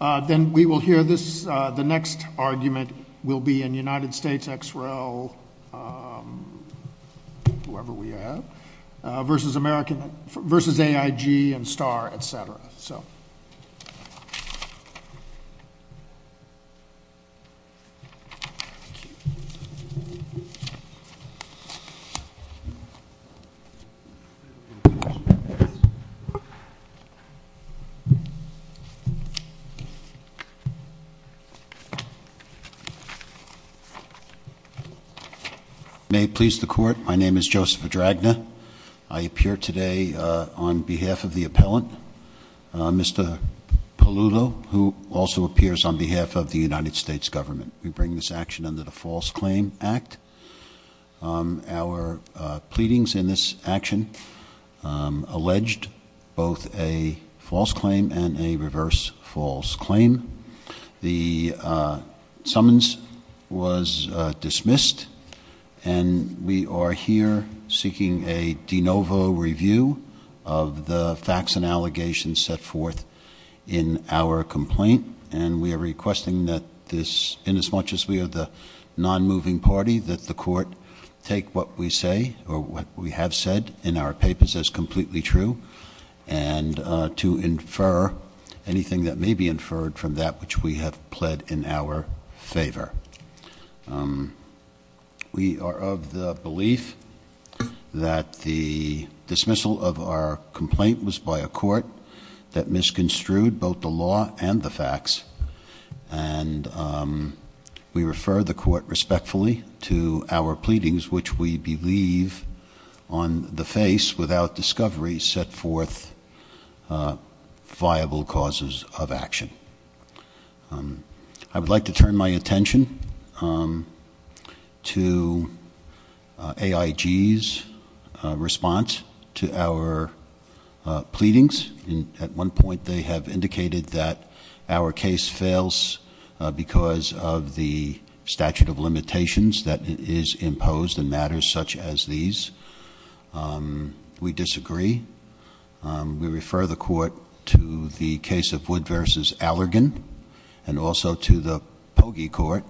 Then we will hear this, the next argument will be in United States ex rel, whoever we have, versus American, versus AIG and STAR, etc. May it please the court, my name is Joseph Adragna. I appear today on behalf of the appellant, Mr. Palullo, who also appears on behalf of the United States government. We bring this action under the False Claim Act. Our pleadings in this action alleged both a false claim and a reverse false claim. The summons was dismissed and we are here seeking a de novo review of the facts and allegations set forth in our complaint. And we are requesting that this, in as much as we are the non-moving party, that the court take what we say or what we have said in our papers as completely true. And to infer anything that may be inferred from that which we have pled in our favor. We are of the belief that the dismissal of our complaint was by a court that misconstrued both the law and the facts. And we refer the court respectfully to our pleadings, which we believe on the face without discovery set forth viable causes of action. I would like to turn my attention to AIG's response to our pleadings. At one point they have indicated that our case fails because of the statute of limitations that is imposed in matters such as these. We disagree. We refer the court to the case of Wood versus Allergan and also to the Pogge court.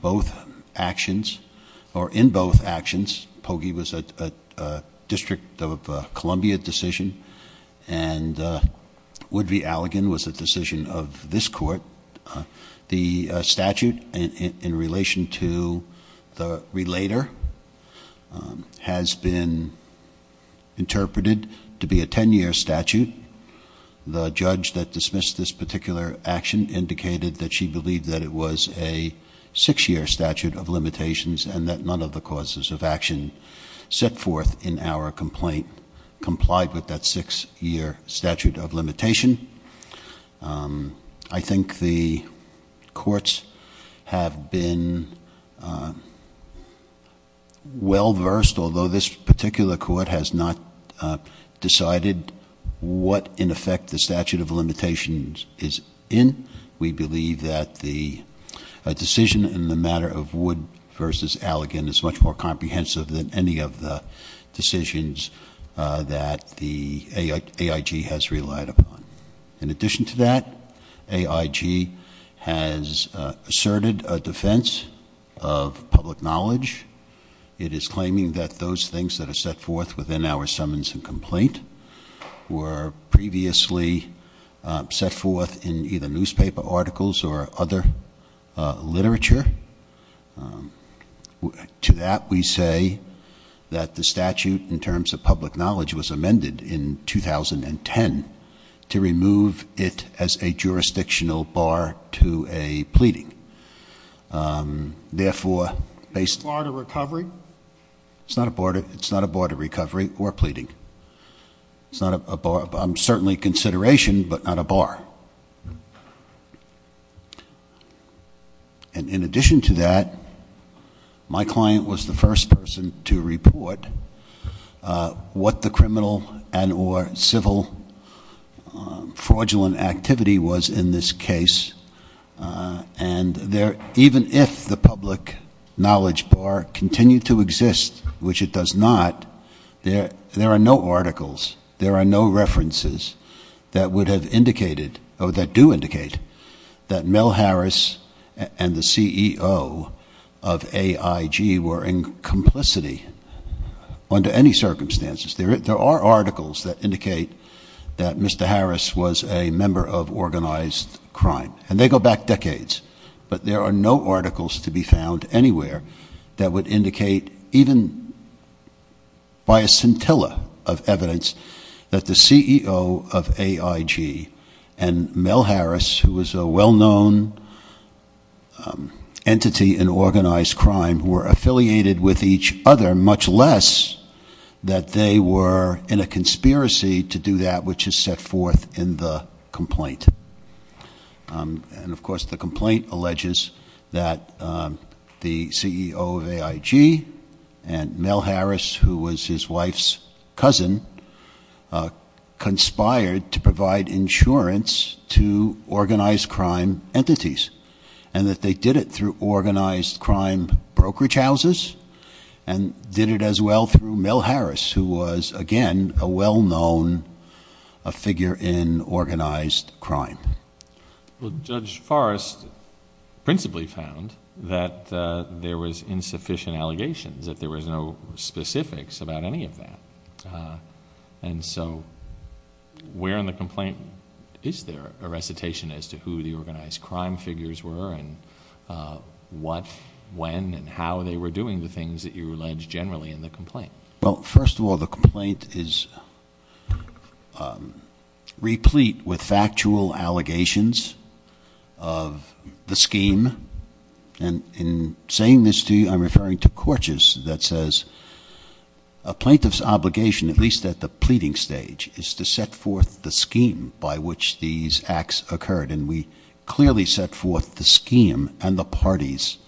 Both actions, or in both actions, Pogge was a District of Columbia decision and Wood v. Allergan was a decision of this court. The statute in relation to the relater has been interpreted to be a ten year statute. The judge that dismissed this particular action indicated that she believed that it was a six year statute of limitations and that none of the causes of action set forth in our complaint complied with that six year statute of limitation. I think the courts have been well versed, although this particular court has not decided what in effect the statute of limitations is in. We believe that the decision in the matter of Wood versus Allergan is much more In addition to that, AIG has asserted a defense of public knowledge. It is claiming that those things that are set forth within our summons and complaint were previously set forth in either newspaper articles or other literature. To that we say that the statute in terms of public knowledge was amended in 2010 to remove it as a jurisdictional bar to a pleading. Therefore- Is it a bar to recovery? It's not a bar to recovery or pleading. It's certainly a consideration, but not a bar. In addition to that, my client was the first person to report what the criminal and or civil fraudulent activity was in this case. And even if the public knowledge bar continued to exist, which it does not, there are no articles, there are no references that would have indicated or that do indicate that Mel Harris and the CEO of AIG were in complicity under any circumstances. There are articles that indicate that Mr. Harris was a member of organized crime. And they go back decades. But there are no articles to be found anywhere that would indicate, even by a scintilla of evidence, that the CEO of AIG and Mel Harris, who was a well-known entity in organized crime, were affiliated with each other, much less that they were in a conspiracy to do that which is set forth in the complaint. And, of course, the complaint alleges that the CEO of AIG and Mel Harris, who was his wife's cousin, conspired to provide insurance to organized crime entities, and that they did it through organized crime brokerage houses and did it as well through Mel Harris, who was, again, a well-known figure in organized crime. Well, Judge Forrest principally found that there was insufficient allegations, that there was no specifics about any of that. And so where in the complaint is there a recitation as to who the organized crime figures were and what, when, and how they were doing the things that you allege generally in the complaint? Well, first of all, the complaint is replete with factual allegations of the scheme. And in saying this to you, I'm referring to Cortes that says a plaintiff's obligation, at least at the pleading stage, is to set forth the scheme by which these acts occurred. And we clearly set forth the scheme and the parties,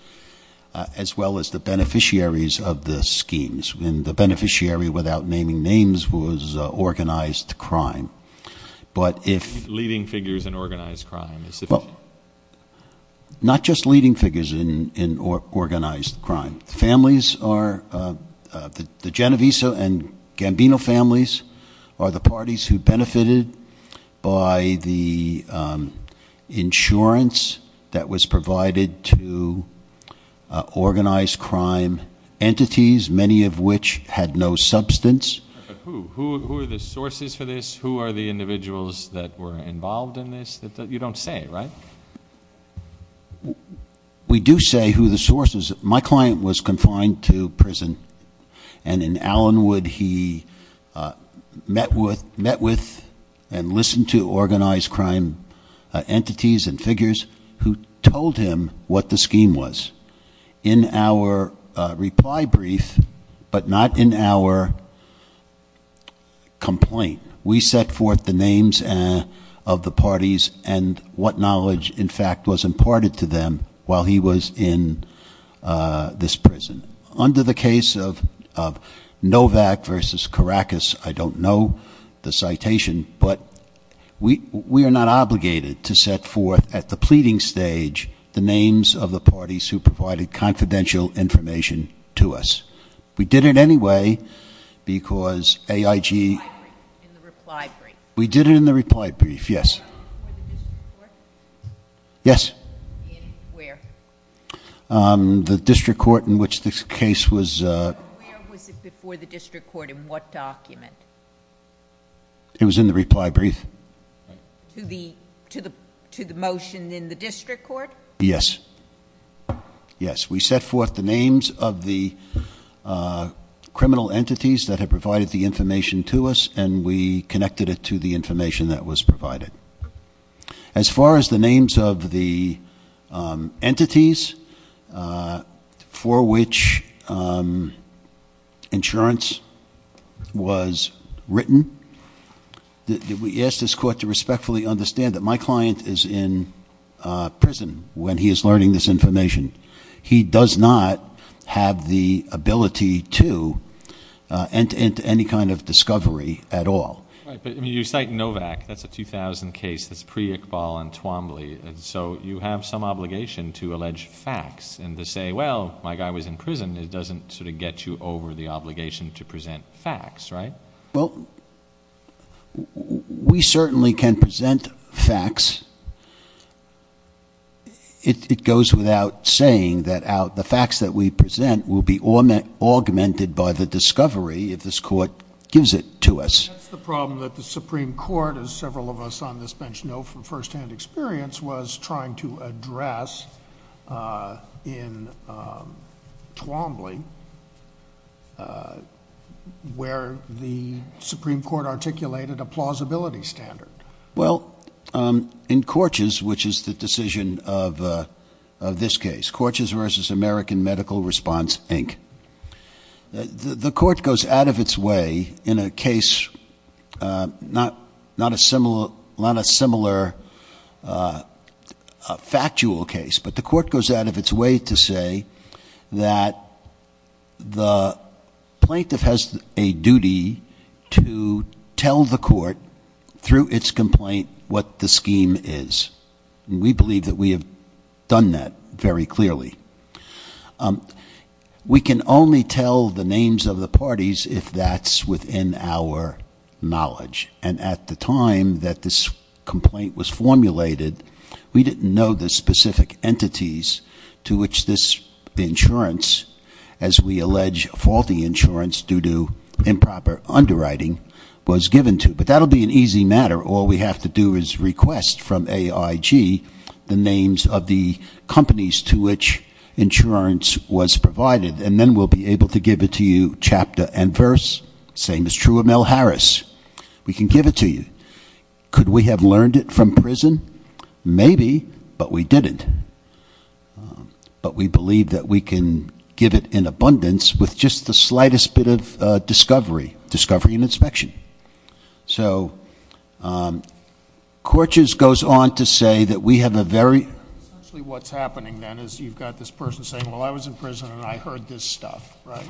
as well as the beneficiaries of the schemes. And the beneficiary, without naming names, was organized crime. But if leading figures in organized crime is sufficient? Not just leading figures in organized crime. The Genovese and Gambino families are the parties who benefited by the insurance that was provided to organized crime entities, many of which had no substance. But who? Who are the sources for this? Who are the individuals that were involved in this? You don't say, right? We do say who the source is. My client was confined to prison, and in Allenwood he met with and listened to organized crime entities and figures who told him what the scheme was. In our reply brief, but not in our complaint, we set forth the names of the parties and what knowledge, in fact, was imparted to them while he was in this prison. Under the case of Novak v. Caracas, I don't know the citation, but we are not obligated to set forth at the pleading stage the names of the parties who provided confidential information to us. We did it anyway because AIG— In the reply brief. We did it in the reply brief, yes. Before the district court? Yes. In where? The district court in which this case was— Where was it before the district court? In what document? It was in the reply brief. To the motion in the district court? Yes. Yes, we set forth the names of the criminal entities that had provided the information to us, and we connected it to the information that was provided. As far as the names of the entities for which insurance was written, we asked this court to respectfully understand that my client is in prison when he is learning this information. He does not have the ability to enter into any kind of discovery at all. Right, but you cite Novak. That's a 2000 case that's pre-Iqbal and Twombly, and so you have some obligation to allege facts and to say, well, my guy was in prison. It doesn't sort of get you over the obligation to present facts, right? Well, we certainly can present facts. It goes without saying that the facts that we present will be augmented by the discovery if this court gives it to us. That's the problem that the Supreme Court, as several of us on this bench know from firsthand experience, was trying to address in Twombly where the Supreme Court articulated a plausibility standard. Well, in Corchis, which is the decision of this case, Corchis v. American Medical Response, Inc., the court goes out of its way in a case, not a similar factual case, but the court goes out of its way to say that the plaintiff has a duty to tell the court through its complaint what the scheme is. And we believe that we have done that very clearly. We can only tell the names of the parties if that's within our knowledge. And at the time that this complaint was formulated, we didn't know the specific entities to which this insurance, as we allege faulty insurance due to improper underwriting, was given to. But that'll be an easy matter. All we have to do is request from AIG the names of the companies to which insurance was provided, and then we'll be able to give it to you chapter and verse, same is true of Mel Harris. We can give it to you. Could we have learned it from prison? Maybe, but we didn't. But we believe that we can give it in abundance with just the slightest bit of discovery, discovery and inspection. So, Corchis goes on to say that we have a very- Essentially what's happening then is you've got this person saying, well, I was in prison and I heard this stuff, right?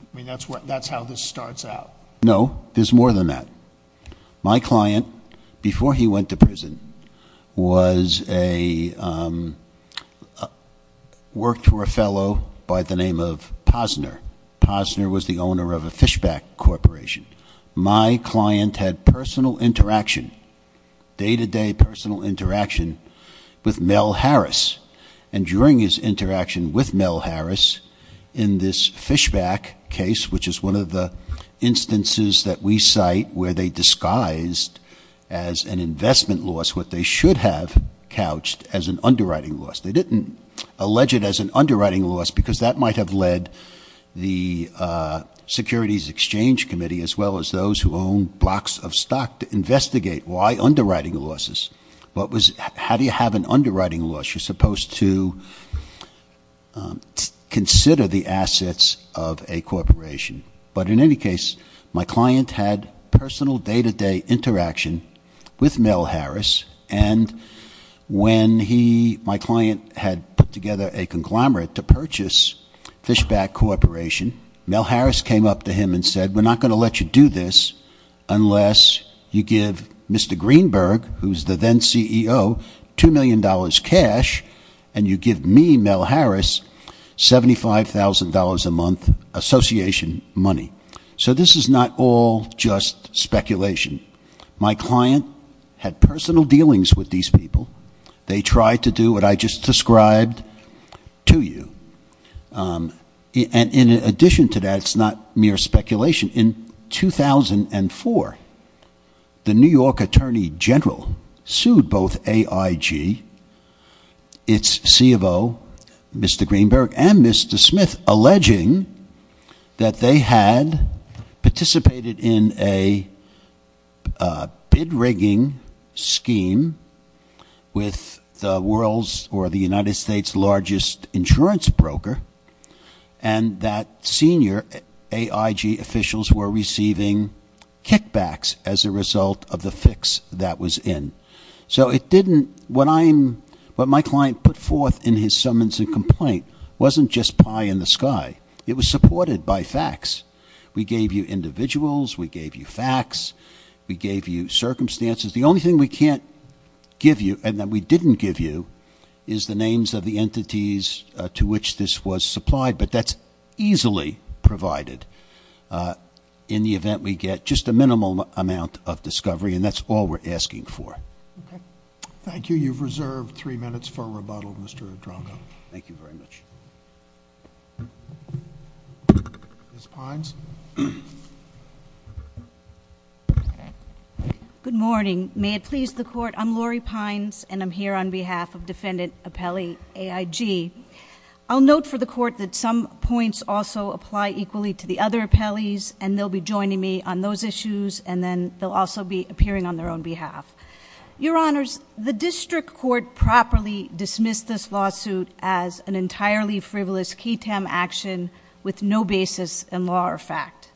I mean, that's how this starts out. No, there's more than that. My client, before he went to prison, worked for a fellow by the name of Posner. Posner was the owner of a fishback corporation. My client had personal interaction, day-to-day personal interaction, with Mel Harris. And during his interaction with Mel Harris in this fishback case, which is one of the instances that we cite where they disguised as an investment loss what they should have couched as an underwriting loss. They didn't allege it as an underwriting loss because that might have led the Securities Exchange Committee, as well as those who own blocks of stock, to investigate why underwriting losses. How do you have an underwriting loss? You're supposed to consider the assets of a corporation. But in any case, my client had personal day-to-day interaction with Mel Harris. And when my client had put together a conglomerate to purchase Fishback Corporation, Mel Harris came up to him and said, we're not going to let you do this unless you give Mr. Greenberg, who's the then CEO, $2 million cash, and you give me, Mel Harris, $75,000 a month association money. So this is not all just speculation. My client had personal dealings with these people. They tried to do what I just described to you. And in addition to that, it's not mere speculation. In 2004, the New York Attorney General sued both AIG, its CFO, Mr. Greenberg, and Mr. Smith, alleging that they had participated in a bid rigging scheme with the world's or the United States' largest insurance broker, and that senior AIG officials were receiving kickbacks as a result of the fix that was in. So what my client put forth in his summons and complaint wasn't just pie in the sky. It was supported by facts. We gave you individuals. We gave you facts. We gave you circumstances. The only thing we can't give you and that we didn't give you is the names of the entities to which this was supplied, but that's easily provided in the event we get just a minimal amount of discovery, and that's all we're asking for. Thank you. You've reserved three minutes for rebuttal, Mr. Drongo. Thank you very much. Ms. Pines. Good morning. May it please the Court, I'm Lori Pines, and I'm here on behalf of Defendant Appellee AIG. I'll note for the Court that some points also apply equally to the other appellees, and they'll be joining me on those issues, and then they'll also be appearing on their own behalf. Your Honors, the District Court properly dismissed this lawsuit as an entirely frivolous key tam action with no basis in law or fact,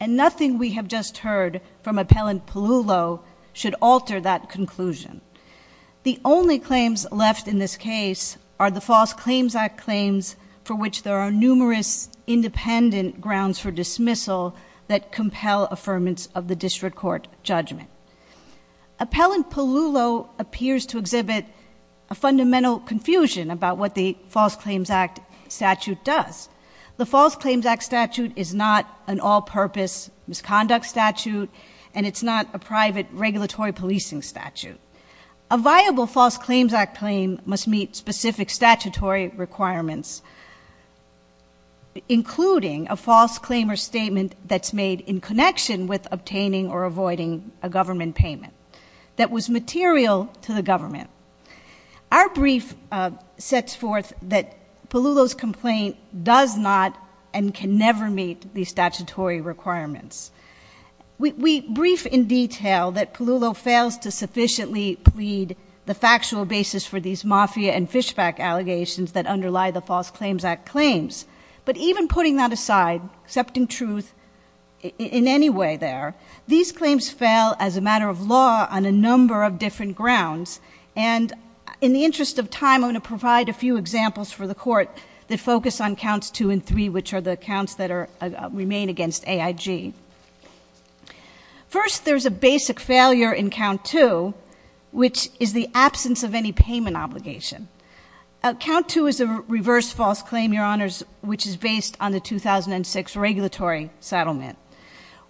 and nothing we have just heard from Appellant Palullo should alter that conclusion. The only claims left in this case are the False Claims Act claims for which there are numerous independent grounds for dismissal that compel affirmance of the District Court judgment. Appellant Palullo appears to exhibit a fundamental confusion about what the False Claims Act statute does. The False Claims Act statute is not an all-purpose misconduct statute, and it's not a private regulatory policing statute. A viable False Claims Act claim must meet specific statutory requirements, including a false claim or statement that's made in connection with obtaining or avoiding a government payment that was material to the government. Our brief sets forth that Palullo's complaint does not and can never meet these statutory requirements. We brief in detail that Palullo fails to sufficiently plead the factual basis for these mafia and fishback allegations that underlie the False Claims Act claims, but even putting that aside, accepting truth in any way there, these claims fail as a matter of law on a number of different grounds. And in the interest of time, I'm going to provide a few examples for the Court that focus on Counts 2 and 3, which are the counts that remain against AIG. First, there's a basic failure in Count 2, which is the absence of any payment obligation. Count 2 is a reverse false claim, Your Honors, which is based on the 2006 regulatory settlement.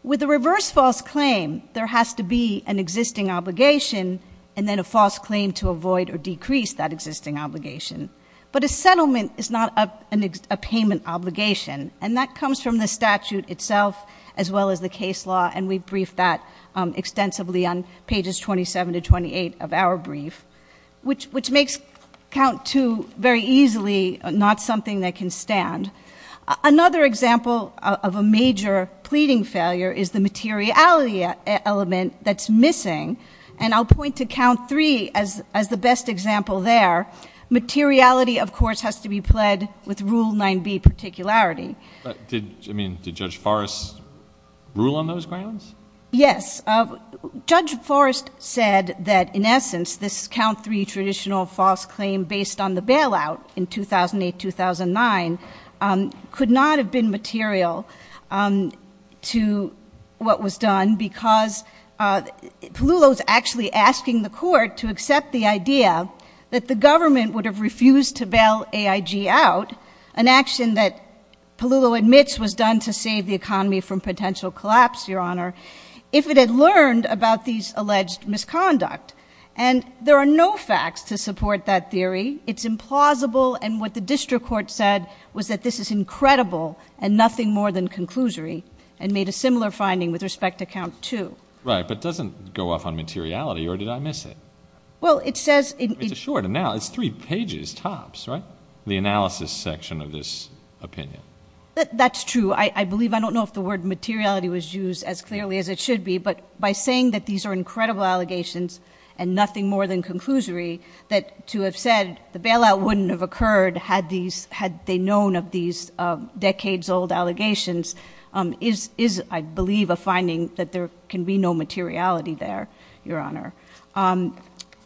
With a reverse false claim, there has to be an existing obligation and then a false claim to avoid or decrease that existing obligation. But a settlement is not a payment obligation, and that comes from the statute itself as well as the case law, and we brief that extensively on pages 27 to 28 of our brief, which makes Count 2 very easily not something that can stand. Another example of a major pleading failure is the materiality element that's missing, and I'll point to Count 3 as the best example there. Materiality, of course, has to be pled with Rule 9b particularity. But did Judge Forrest rule on those grounds? Yes. Judge Forrest said that, in essence, this Count 3 traditional false claim based on the bailout in 2008-2009 could not have been material to what was done because Palullo's actually asking the court to accept the idea that the government would have refused to bail AIG out, an action that Palullo admits was done to save the economy from potential collapse, Your Honor, if it had learned about these alleged misconduct. And there are no facts to support that theory. It's implausible, and what the district court said was that this is incredible and nothing more than conclusory and made a similar finding with respect to Count 2. Right, but it doesn't go off on materiality, or did I miss it? Well, it says in the analysis section of this opinion. That's true. I believe, I don't know if the word materiality was used as clearly as it should be, but by saying that these are incredible allegations and nothing more than conclusory, that to have said the bailout wouldn't have occurred had they known of these decades-old allegations is, I believe, a finding that there can be no materiality there, Your Honor.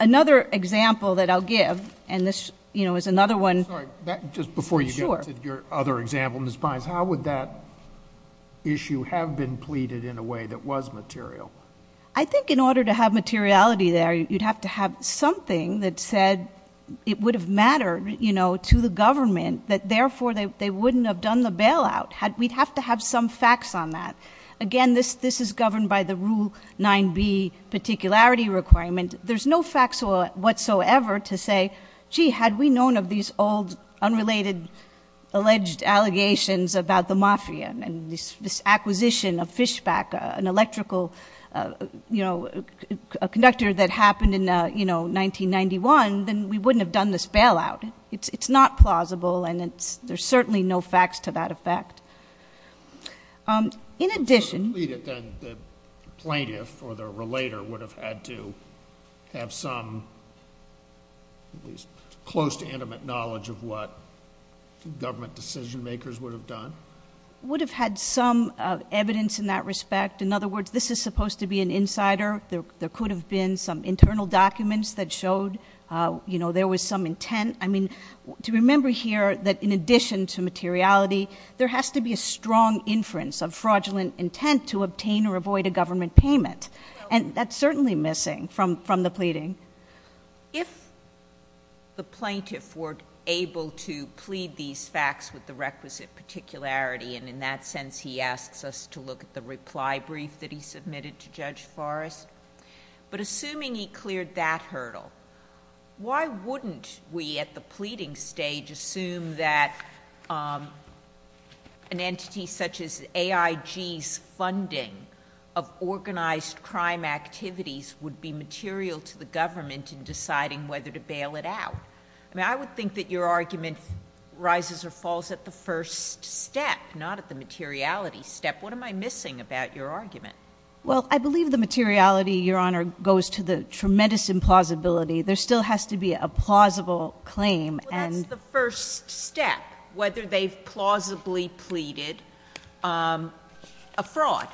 Another example that I'll give, and this is another one. Sorry, just before you get to your other example, Ms. Bynes, how would that issue have been pleaded in a way that was material? I think in order to have materiality there, you'd have to have something that said it would have mattered to the government, that therefore they wouldn't have done the bailout. We'd have to have some facts on that. Again, this is governed by the Rule 9b particularity requirement. There's no facts whatsoever to say, gee, had we known of these old, unrelated, alleged allegations about the mafia and this acquisition of Fishback, an electrical conductor that happened in 1991, then we wouldn't have done this bailout. It's not plausible, and there's certainly no facts to that effect. If it were pleaded, then the plaintiff or the relator would have had to have some at least close to intimate knowledge of what government decision-makers would have done? Would have had some evidence in that respect. In other words, this is supposed to be an insider. There could have been some internal documents that showed there was some intent. To remember here that in addition to materiality, there has to be a strong inference of fraudulent intent to obtain or avoid a government payment. That's certainly missing from the pleading. If the plaintiff were able to plead these facts with the requisite particularity, and in that sense he asks us to look at the reply brief that he submitted to Judge Forrest, but assuming he cleared that hurdle, why wouldn't we at the pleading stage assume that an entity such as AIG's funding of organized crime activities would be material to the government in deciding whether to bail it out? I would think that your argument rises or falls at the first step, not at the materiality step. What am I missing about your argument? Well, I believe the materiality, Your Honor, goes to the tremendous implausibility. There still has to be a plausible claim. Well, that's the first step, whether they've plausibly pleaded a fraud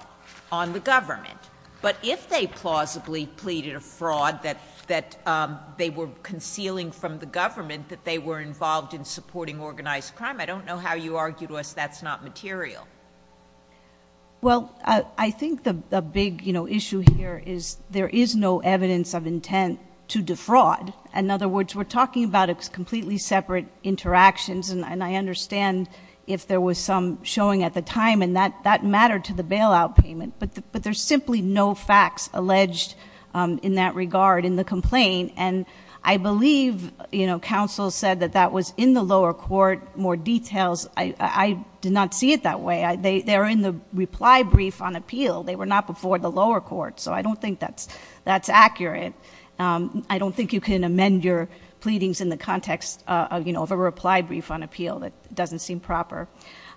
on the government. But if they plausibly pleaded a fraud that they were concealing from the government that they were involved in supporting organized crime, I don't know how you argue to us that's not material. Well, I think the big issue here is there is no evidence of intent to defraud. In other words, we're talking about completely separate interactions, and I understand if there was some showing at the time, and that mattered to the bailout payment. But there's simply no facts alleged in that regard in the complaint, and I believe counsel said that that was in the lower court, more details. I did not see it that way. They're in the reply brief on appeal. They were not before the lower court, so I don't think that's accurate. I don't think you can amend your pleadings in the context of a reply brief on appeal. That doesn't seem proper.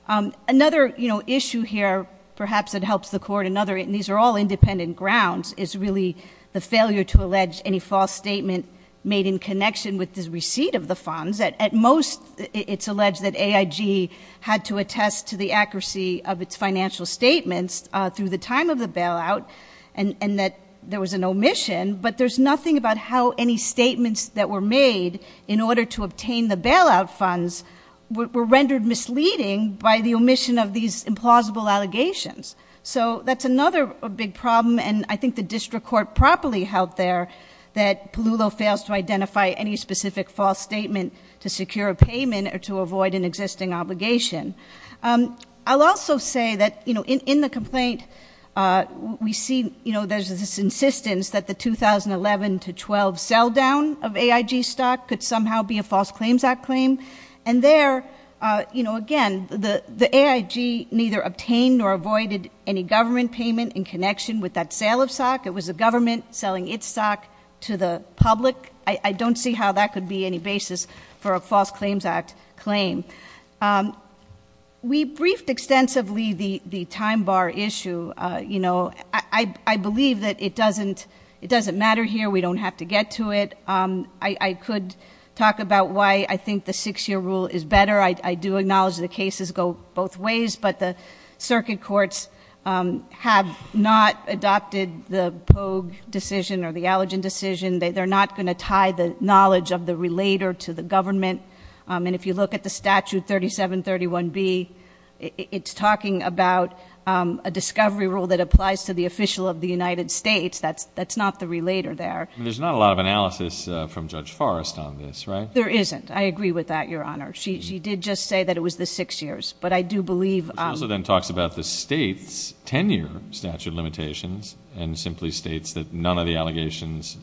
Another issue here, perhaps that helps the court in other ways, and these are all independent grounds, is really the failure to allege any false statement made in connection with the receipt of the funds. At most, it's alleged that AIG had to attest to the accuracy of its financial statements through the time of the bailout, and that there was an omission, but there's nothing about how any statements that were made in order to obtain the bailout funds were rendered misleading by the omission of these implausible allegations. So that's another big problem, and I think the district court properly held there that Palullo fails to identify any specific false statement to secure a payment or to avoid an existing obligation. I'll also say that in the complaint, we see there's this insistence that the 2011-12 selldown of AIG stock could somehow be a false claims act claim, and there, again, the AIG neither obtained nor avoided any government payment in connection with that sale of stock. It was the government selling its stock to the public. I don't see how that could be any basis for a false claims act claim. We briefed extensively the time bar issue. You know, I believe that it doesn't matter here. We don't have to get to it. I could talk about why I think the six-year rule is better. I do acknowledge the cases go both ways, but the circuit courts have not adopted the POG decision or the allergen decision. They're not going to tie the knowledge of the relator to the government, and if you look at the statute 3731B, it's talking about a discovery rule that applies to the official of the United States. That's not the relator there. There's not a lot of analysis from Judge Forrest on this, right? There isn't. I agree with that, Your Honor. She did just say that it was the six years, but I do believe ---- She also then talks about the state's 10-year statute of limitations and simply states that none of the allegations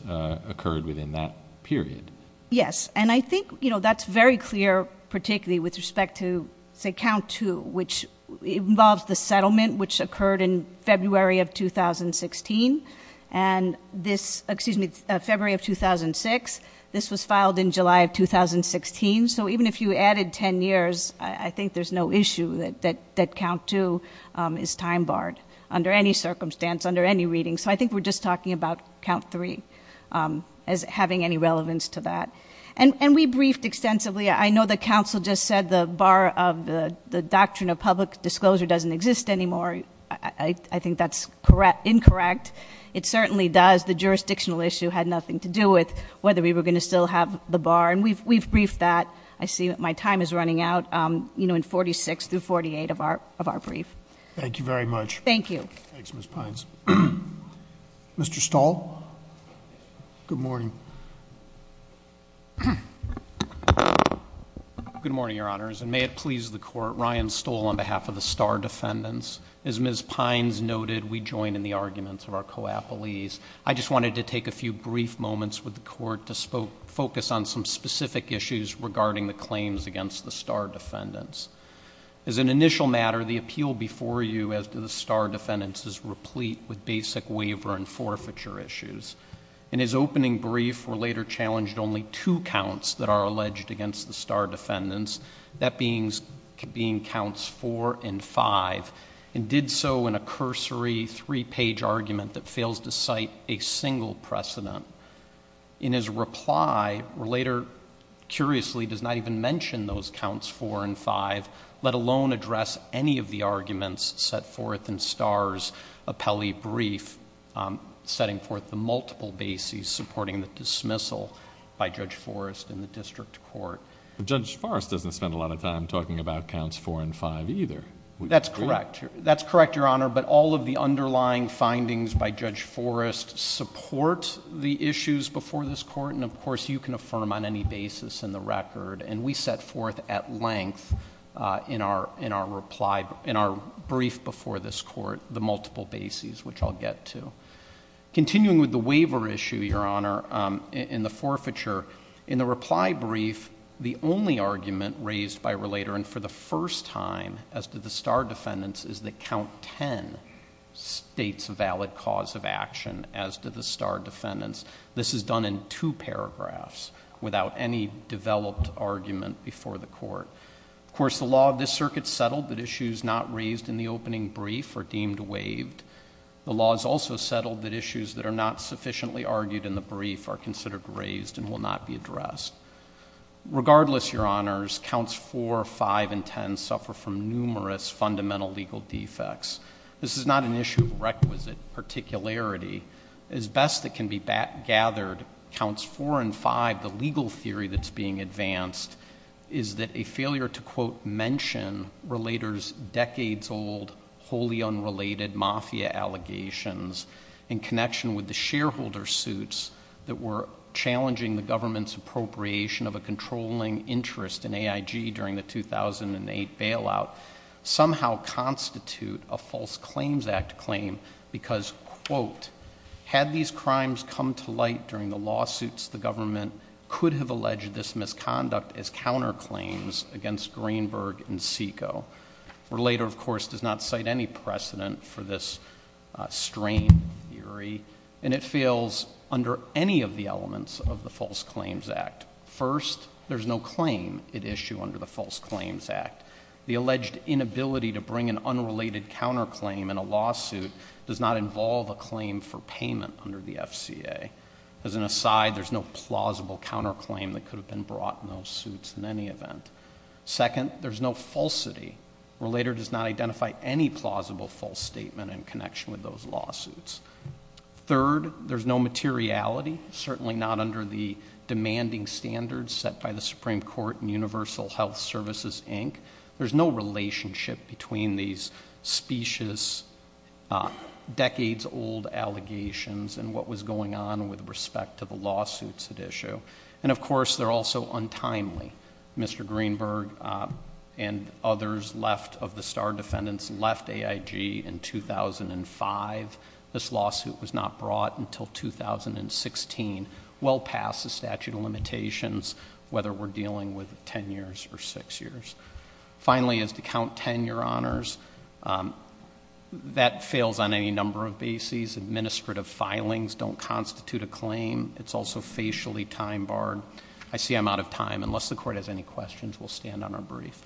occurred within that period. Yes, and I think, you know, that's very clear, particularly with respect to, say, count two, which involves the settlement, which occurred in February of 2016, and this ---- excuse me, February of 2006. This was filed in July of 2016. So even if you added 10 years, I think there's no issue that count two is time barred under any circumstance, under any reading. So I think we're just talking about count three as having any relevance to that. And we briefed extensively. I know the counsel just said the doctrine of public disclosure doesn't exist anymore. I think that's incorrect. It certainly does. The jurisdictional issue had nothing to do with whether we were going to still have the bar. And we've briefed that. I see that my time is running out, you know, in 46 through 48 of our brief. Thank you very much. Thank you. Thanks, Ms. Pines. Mr. Stahl. Good morning. Good morning, Your Honors, and may it please the Court, Ryan Stahl on behalf of the Starr Defendants. As Ms. Pines noted, we join in the arguments of our co-appellees. I just wanted to take a few brief moments with the Court to focus on some specific issues regarding the claims against the Starr Defendants. As an initial matter, the appeal before you as to the Starr Defendants is replete with basic waiver and forfeiture issues. In his opening brief, we're later challenged only two counts that are alleged against the Starr Defendants, that being counts four and five, and did so in a cursory three-page argument that fails to cite a single precedent. In his reply, Relator curiously does not even mention those counts four and five, let alone address any of the arguments set forth in Starr's appellee brief, setting forth the multiple bases supporting the dismissal by Judge Forrest in the district court. Judge Forrest doesn't spend a lot of time talking about counts four and five either. That's correct. That's correct, Your Honor, but all of the underlying findings by Judge Forrest support the issues before this court, and of course you can affirm on any basis in the record, and we set forth at length in our brief before this court the multiple bases, which I'll get to. Continuing with the waiver issue, Your Honor, and the forfeiture, in the reply brief, the only argument raised by Relator and for the first time as to the Starr Defendants is that count ten states a valid cause of action as to the Starr Defendants. This is done in two paragraphs without any developed argument before the court. Of course, the law of this circuit settled that issues not raised in the opening brief are deemed waived. The law has also settled that issues that are not sufficiently argued in the brief are considered raised and will not be addressed. Regardless, Your Honors, counts four, five, and ten suffer from numerous fundamental legal defects. This is not an issue of requisite particularity. As best that can be gathered, counts four and five, the legal theory that's being advanced, is that a failure to, quote, mention Relator's decades-old wholly unrelated mafia allegations in connection with the shareholder suits that were challenging the government's appropriation of a controlling interest in AIG during the 2008 bailout somehow constitute a False Claims Act claim because, quote, had these crimes come to light during the lawsuits, the government could have alleged this misconduct as counterclaims against Greenberg and Seiko. Relator, of course, does not cite any precedent for this strain theory, and it fails under any of the elements of the False Claims Act. First, there's no claim at issue under the False Claims Act. The alleged inability to bring an unrelated counterclaim in a lawsuit does not involve a claim for payment under the FCA. As an aside, there's no plausible counterclaim that could have been brought in those suits in any event. Second, there's no falsity. Relator does not identify any plausible false statement in connection with those lawsuits. Third, there's no materiality, certainly not under the demanding standards set by the Supreme Court and Universal Health Services, Inc. There's no relationship between these specious decades-old allegations and what was going on with respect to the lawsuits at issue. And, of course, they're also untimely. Mr. Greenberg and others left of the star defendants left AIG in 2005. This lawsuit was not brought until 2016, well past the statute of limitations, whether we're dealing with 10 years or 6 years. Finally, as to count 10, Your Honors, that fails on any number of bases. Administrative filings don't constitute a claim. It's also facially time-barred. I see I'm out of time. Unless the Court has any questions, we'll stand on our brief.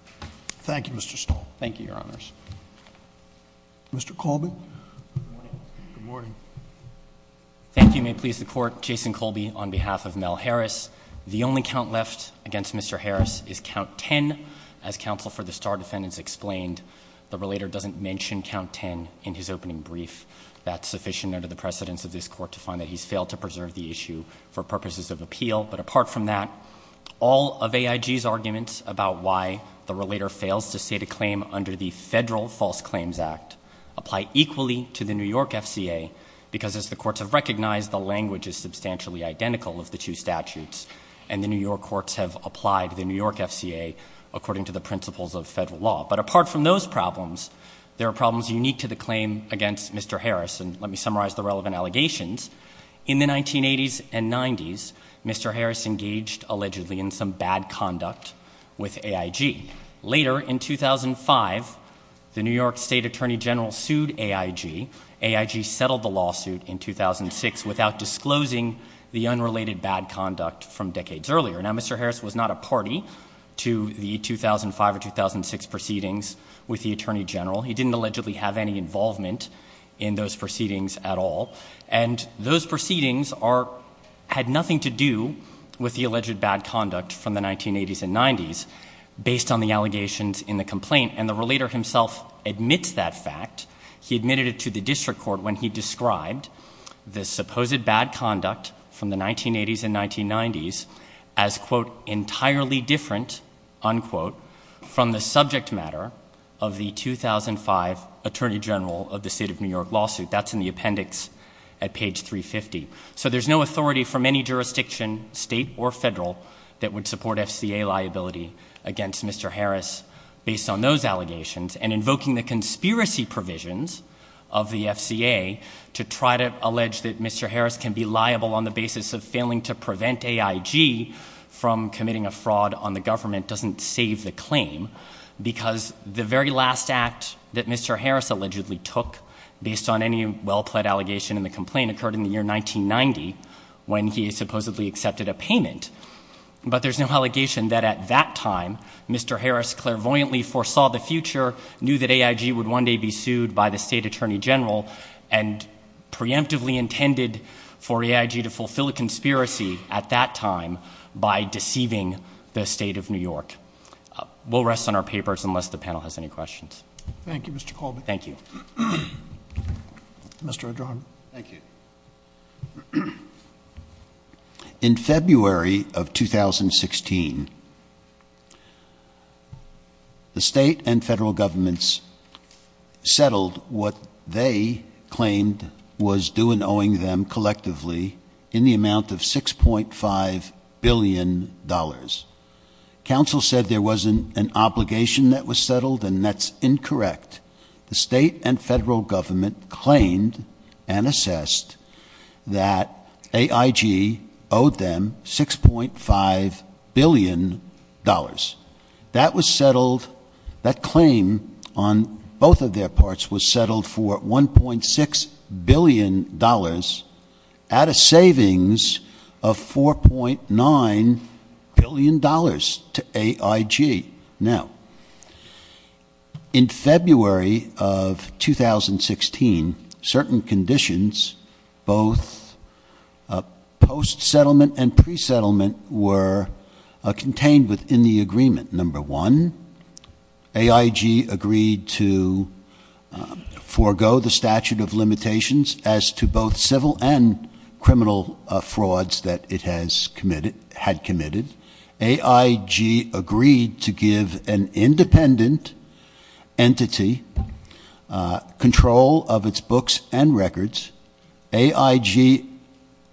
Thank you, Mr. Stahl. Thank you, Your Honors. Mr. Colby. Good morning. Thank you. May it please the Court. Jason Colby on behalf of Mel Harris. The only count left against Mr. Harris is count 10. As counsel for the star defendants explained, the relator doesn't mention count 10 in his opening brief. That's sufficient under the precedence of this Court to find that he's failed to preserve the issue for purposes of appeal. But apart from that, all of AIG's arguments about why the relator fails to state a claim under the Federal False Claims Act apply equally to the New York FCA because, as the courts have recognized, the language is substantially identical of the two statutes, and the New York courts have applied the New York FCA according to the principles of federal law. But apart from those problems, there are problems unique to the claim against Mr. Harris. And let me summarize the relevant allegations. In the 1980s and 90s, Mr. Harris engaged allegedly in some bad conduct with AIG. Later, in 2005, the New York State Attorney General sued AIG. AIG settled the lawsuit in 2006 without disclosing the unrelated bad conduct from decades earlier. Now, Mr. Harris was not a party to the 2005 or 2006 proceedings with the Attorney General. He didn't allegedly have any involvement in those proceedings at all. And those proceedings had nothing to do with the alleged bad conduct from the 1980s and 90s based on the allegations in the complaint. And the relator himself admits that fact. He admitted it to the district court when he described the supposed bad conduct from the 1980s and 1990s as, quote, entirely different, unquote, from the subject matter of the 2005 Attorney General of the State of New York lawsuit. That's in the appendix at page 350. So there's no authority from any jurisdiction, state or federal, that would support FCA liability against Mr. Harris based on those allegations. And invoking the conspiracy provisions of the FCA to try to allege that Mr. Harris can be liable on the basis of failing to prevent AIG from committing a fraud on the government doesn't save the claim. Because the very last act that Mr. Harris allegedly took based on any well-plaid allegation in the complaint occurred in the year 1990 when he supposedly accepted a payment. But there's no allegation that at that time Mr. Harris clairvoyantly foresaw the future, knew that AIG would one day be sued by the State Attorney General, and preemptively intended for AIG to fulfill a conspiracy at that time by deceiving the State of New York. We'll rest on our papers unless the panel has any questions. Thank you, Mr. Colby. Thank you. Mr. O'Donnell. Thank you. In February of 2016, the state and federal governments settled what they claimed was due and owing them collectively in the amount of $6.5 billion. Council said there was an obligation that was settled and that's incorrect. The state and federal government claimed and assessed that AIG owed them $6.5 billion. That claim on both of their parts was settled for $1.6 billion at a savings of $4.9 billion to AIG. Now, in February of 2016, certain conditions, both post-settlement and pre-settlement, were contained within the agreement. Number one, AIG agreed to forego the statute of limitations as to both civil and criminal frauds that it had committed. AIG agreed to give an independent entity control of its books and records. AIG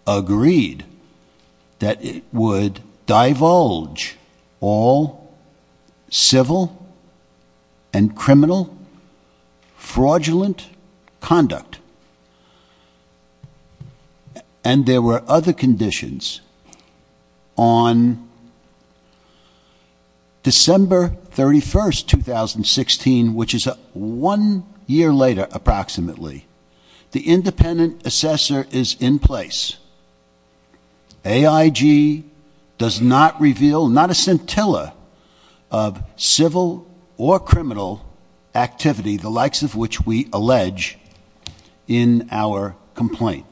agreed that it would divulge all civil and criminal fraudulent conduct. And there were other conditions. On December 31st, 2016, which is one year later approximately, the independent assessor is in place. AIG does not reveal, not a scintilla of civil or criminal activity in our complaint.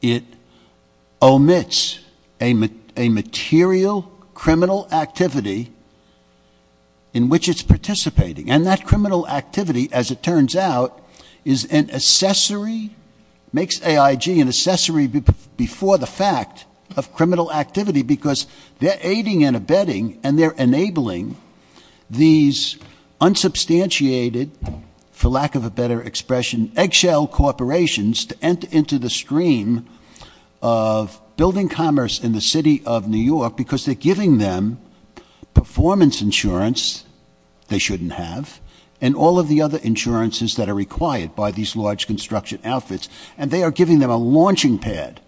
It omits a material criminal activity in which it's participating. And that criminal activity, as it turns out, is an accessory, makes AIG an accessory before the fact of criminal activity. Because they're aiding and abetting, and they're enabling these unsubstantiated, for lack of a better expression, eggshell corporations to enter into the stream of building commerce in the city of New York because they're giving them performance insurance they shouldn't have and all of the other insurances that are required by these large construction outfits. And they are giving them a launching pad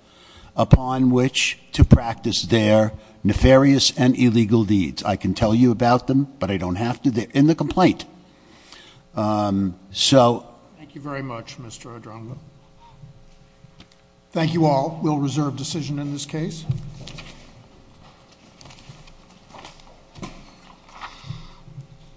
upon which to practice their nefarious and illegal deeds. I can tell you about them, but I don't have to in the complaint. So- Thank you very much, Mr. O'Donnell. Thank you all. We'll reserve decision in this case.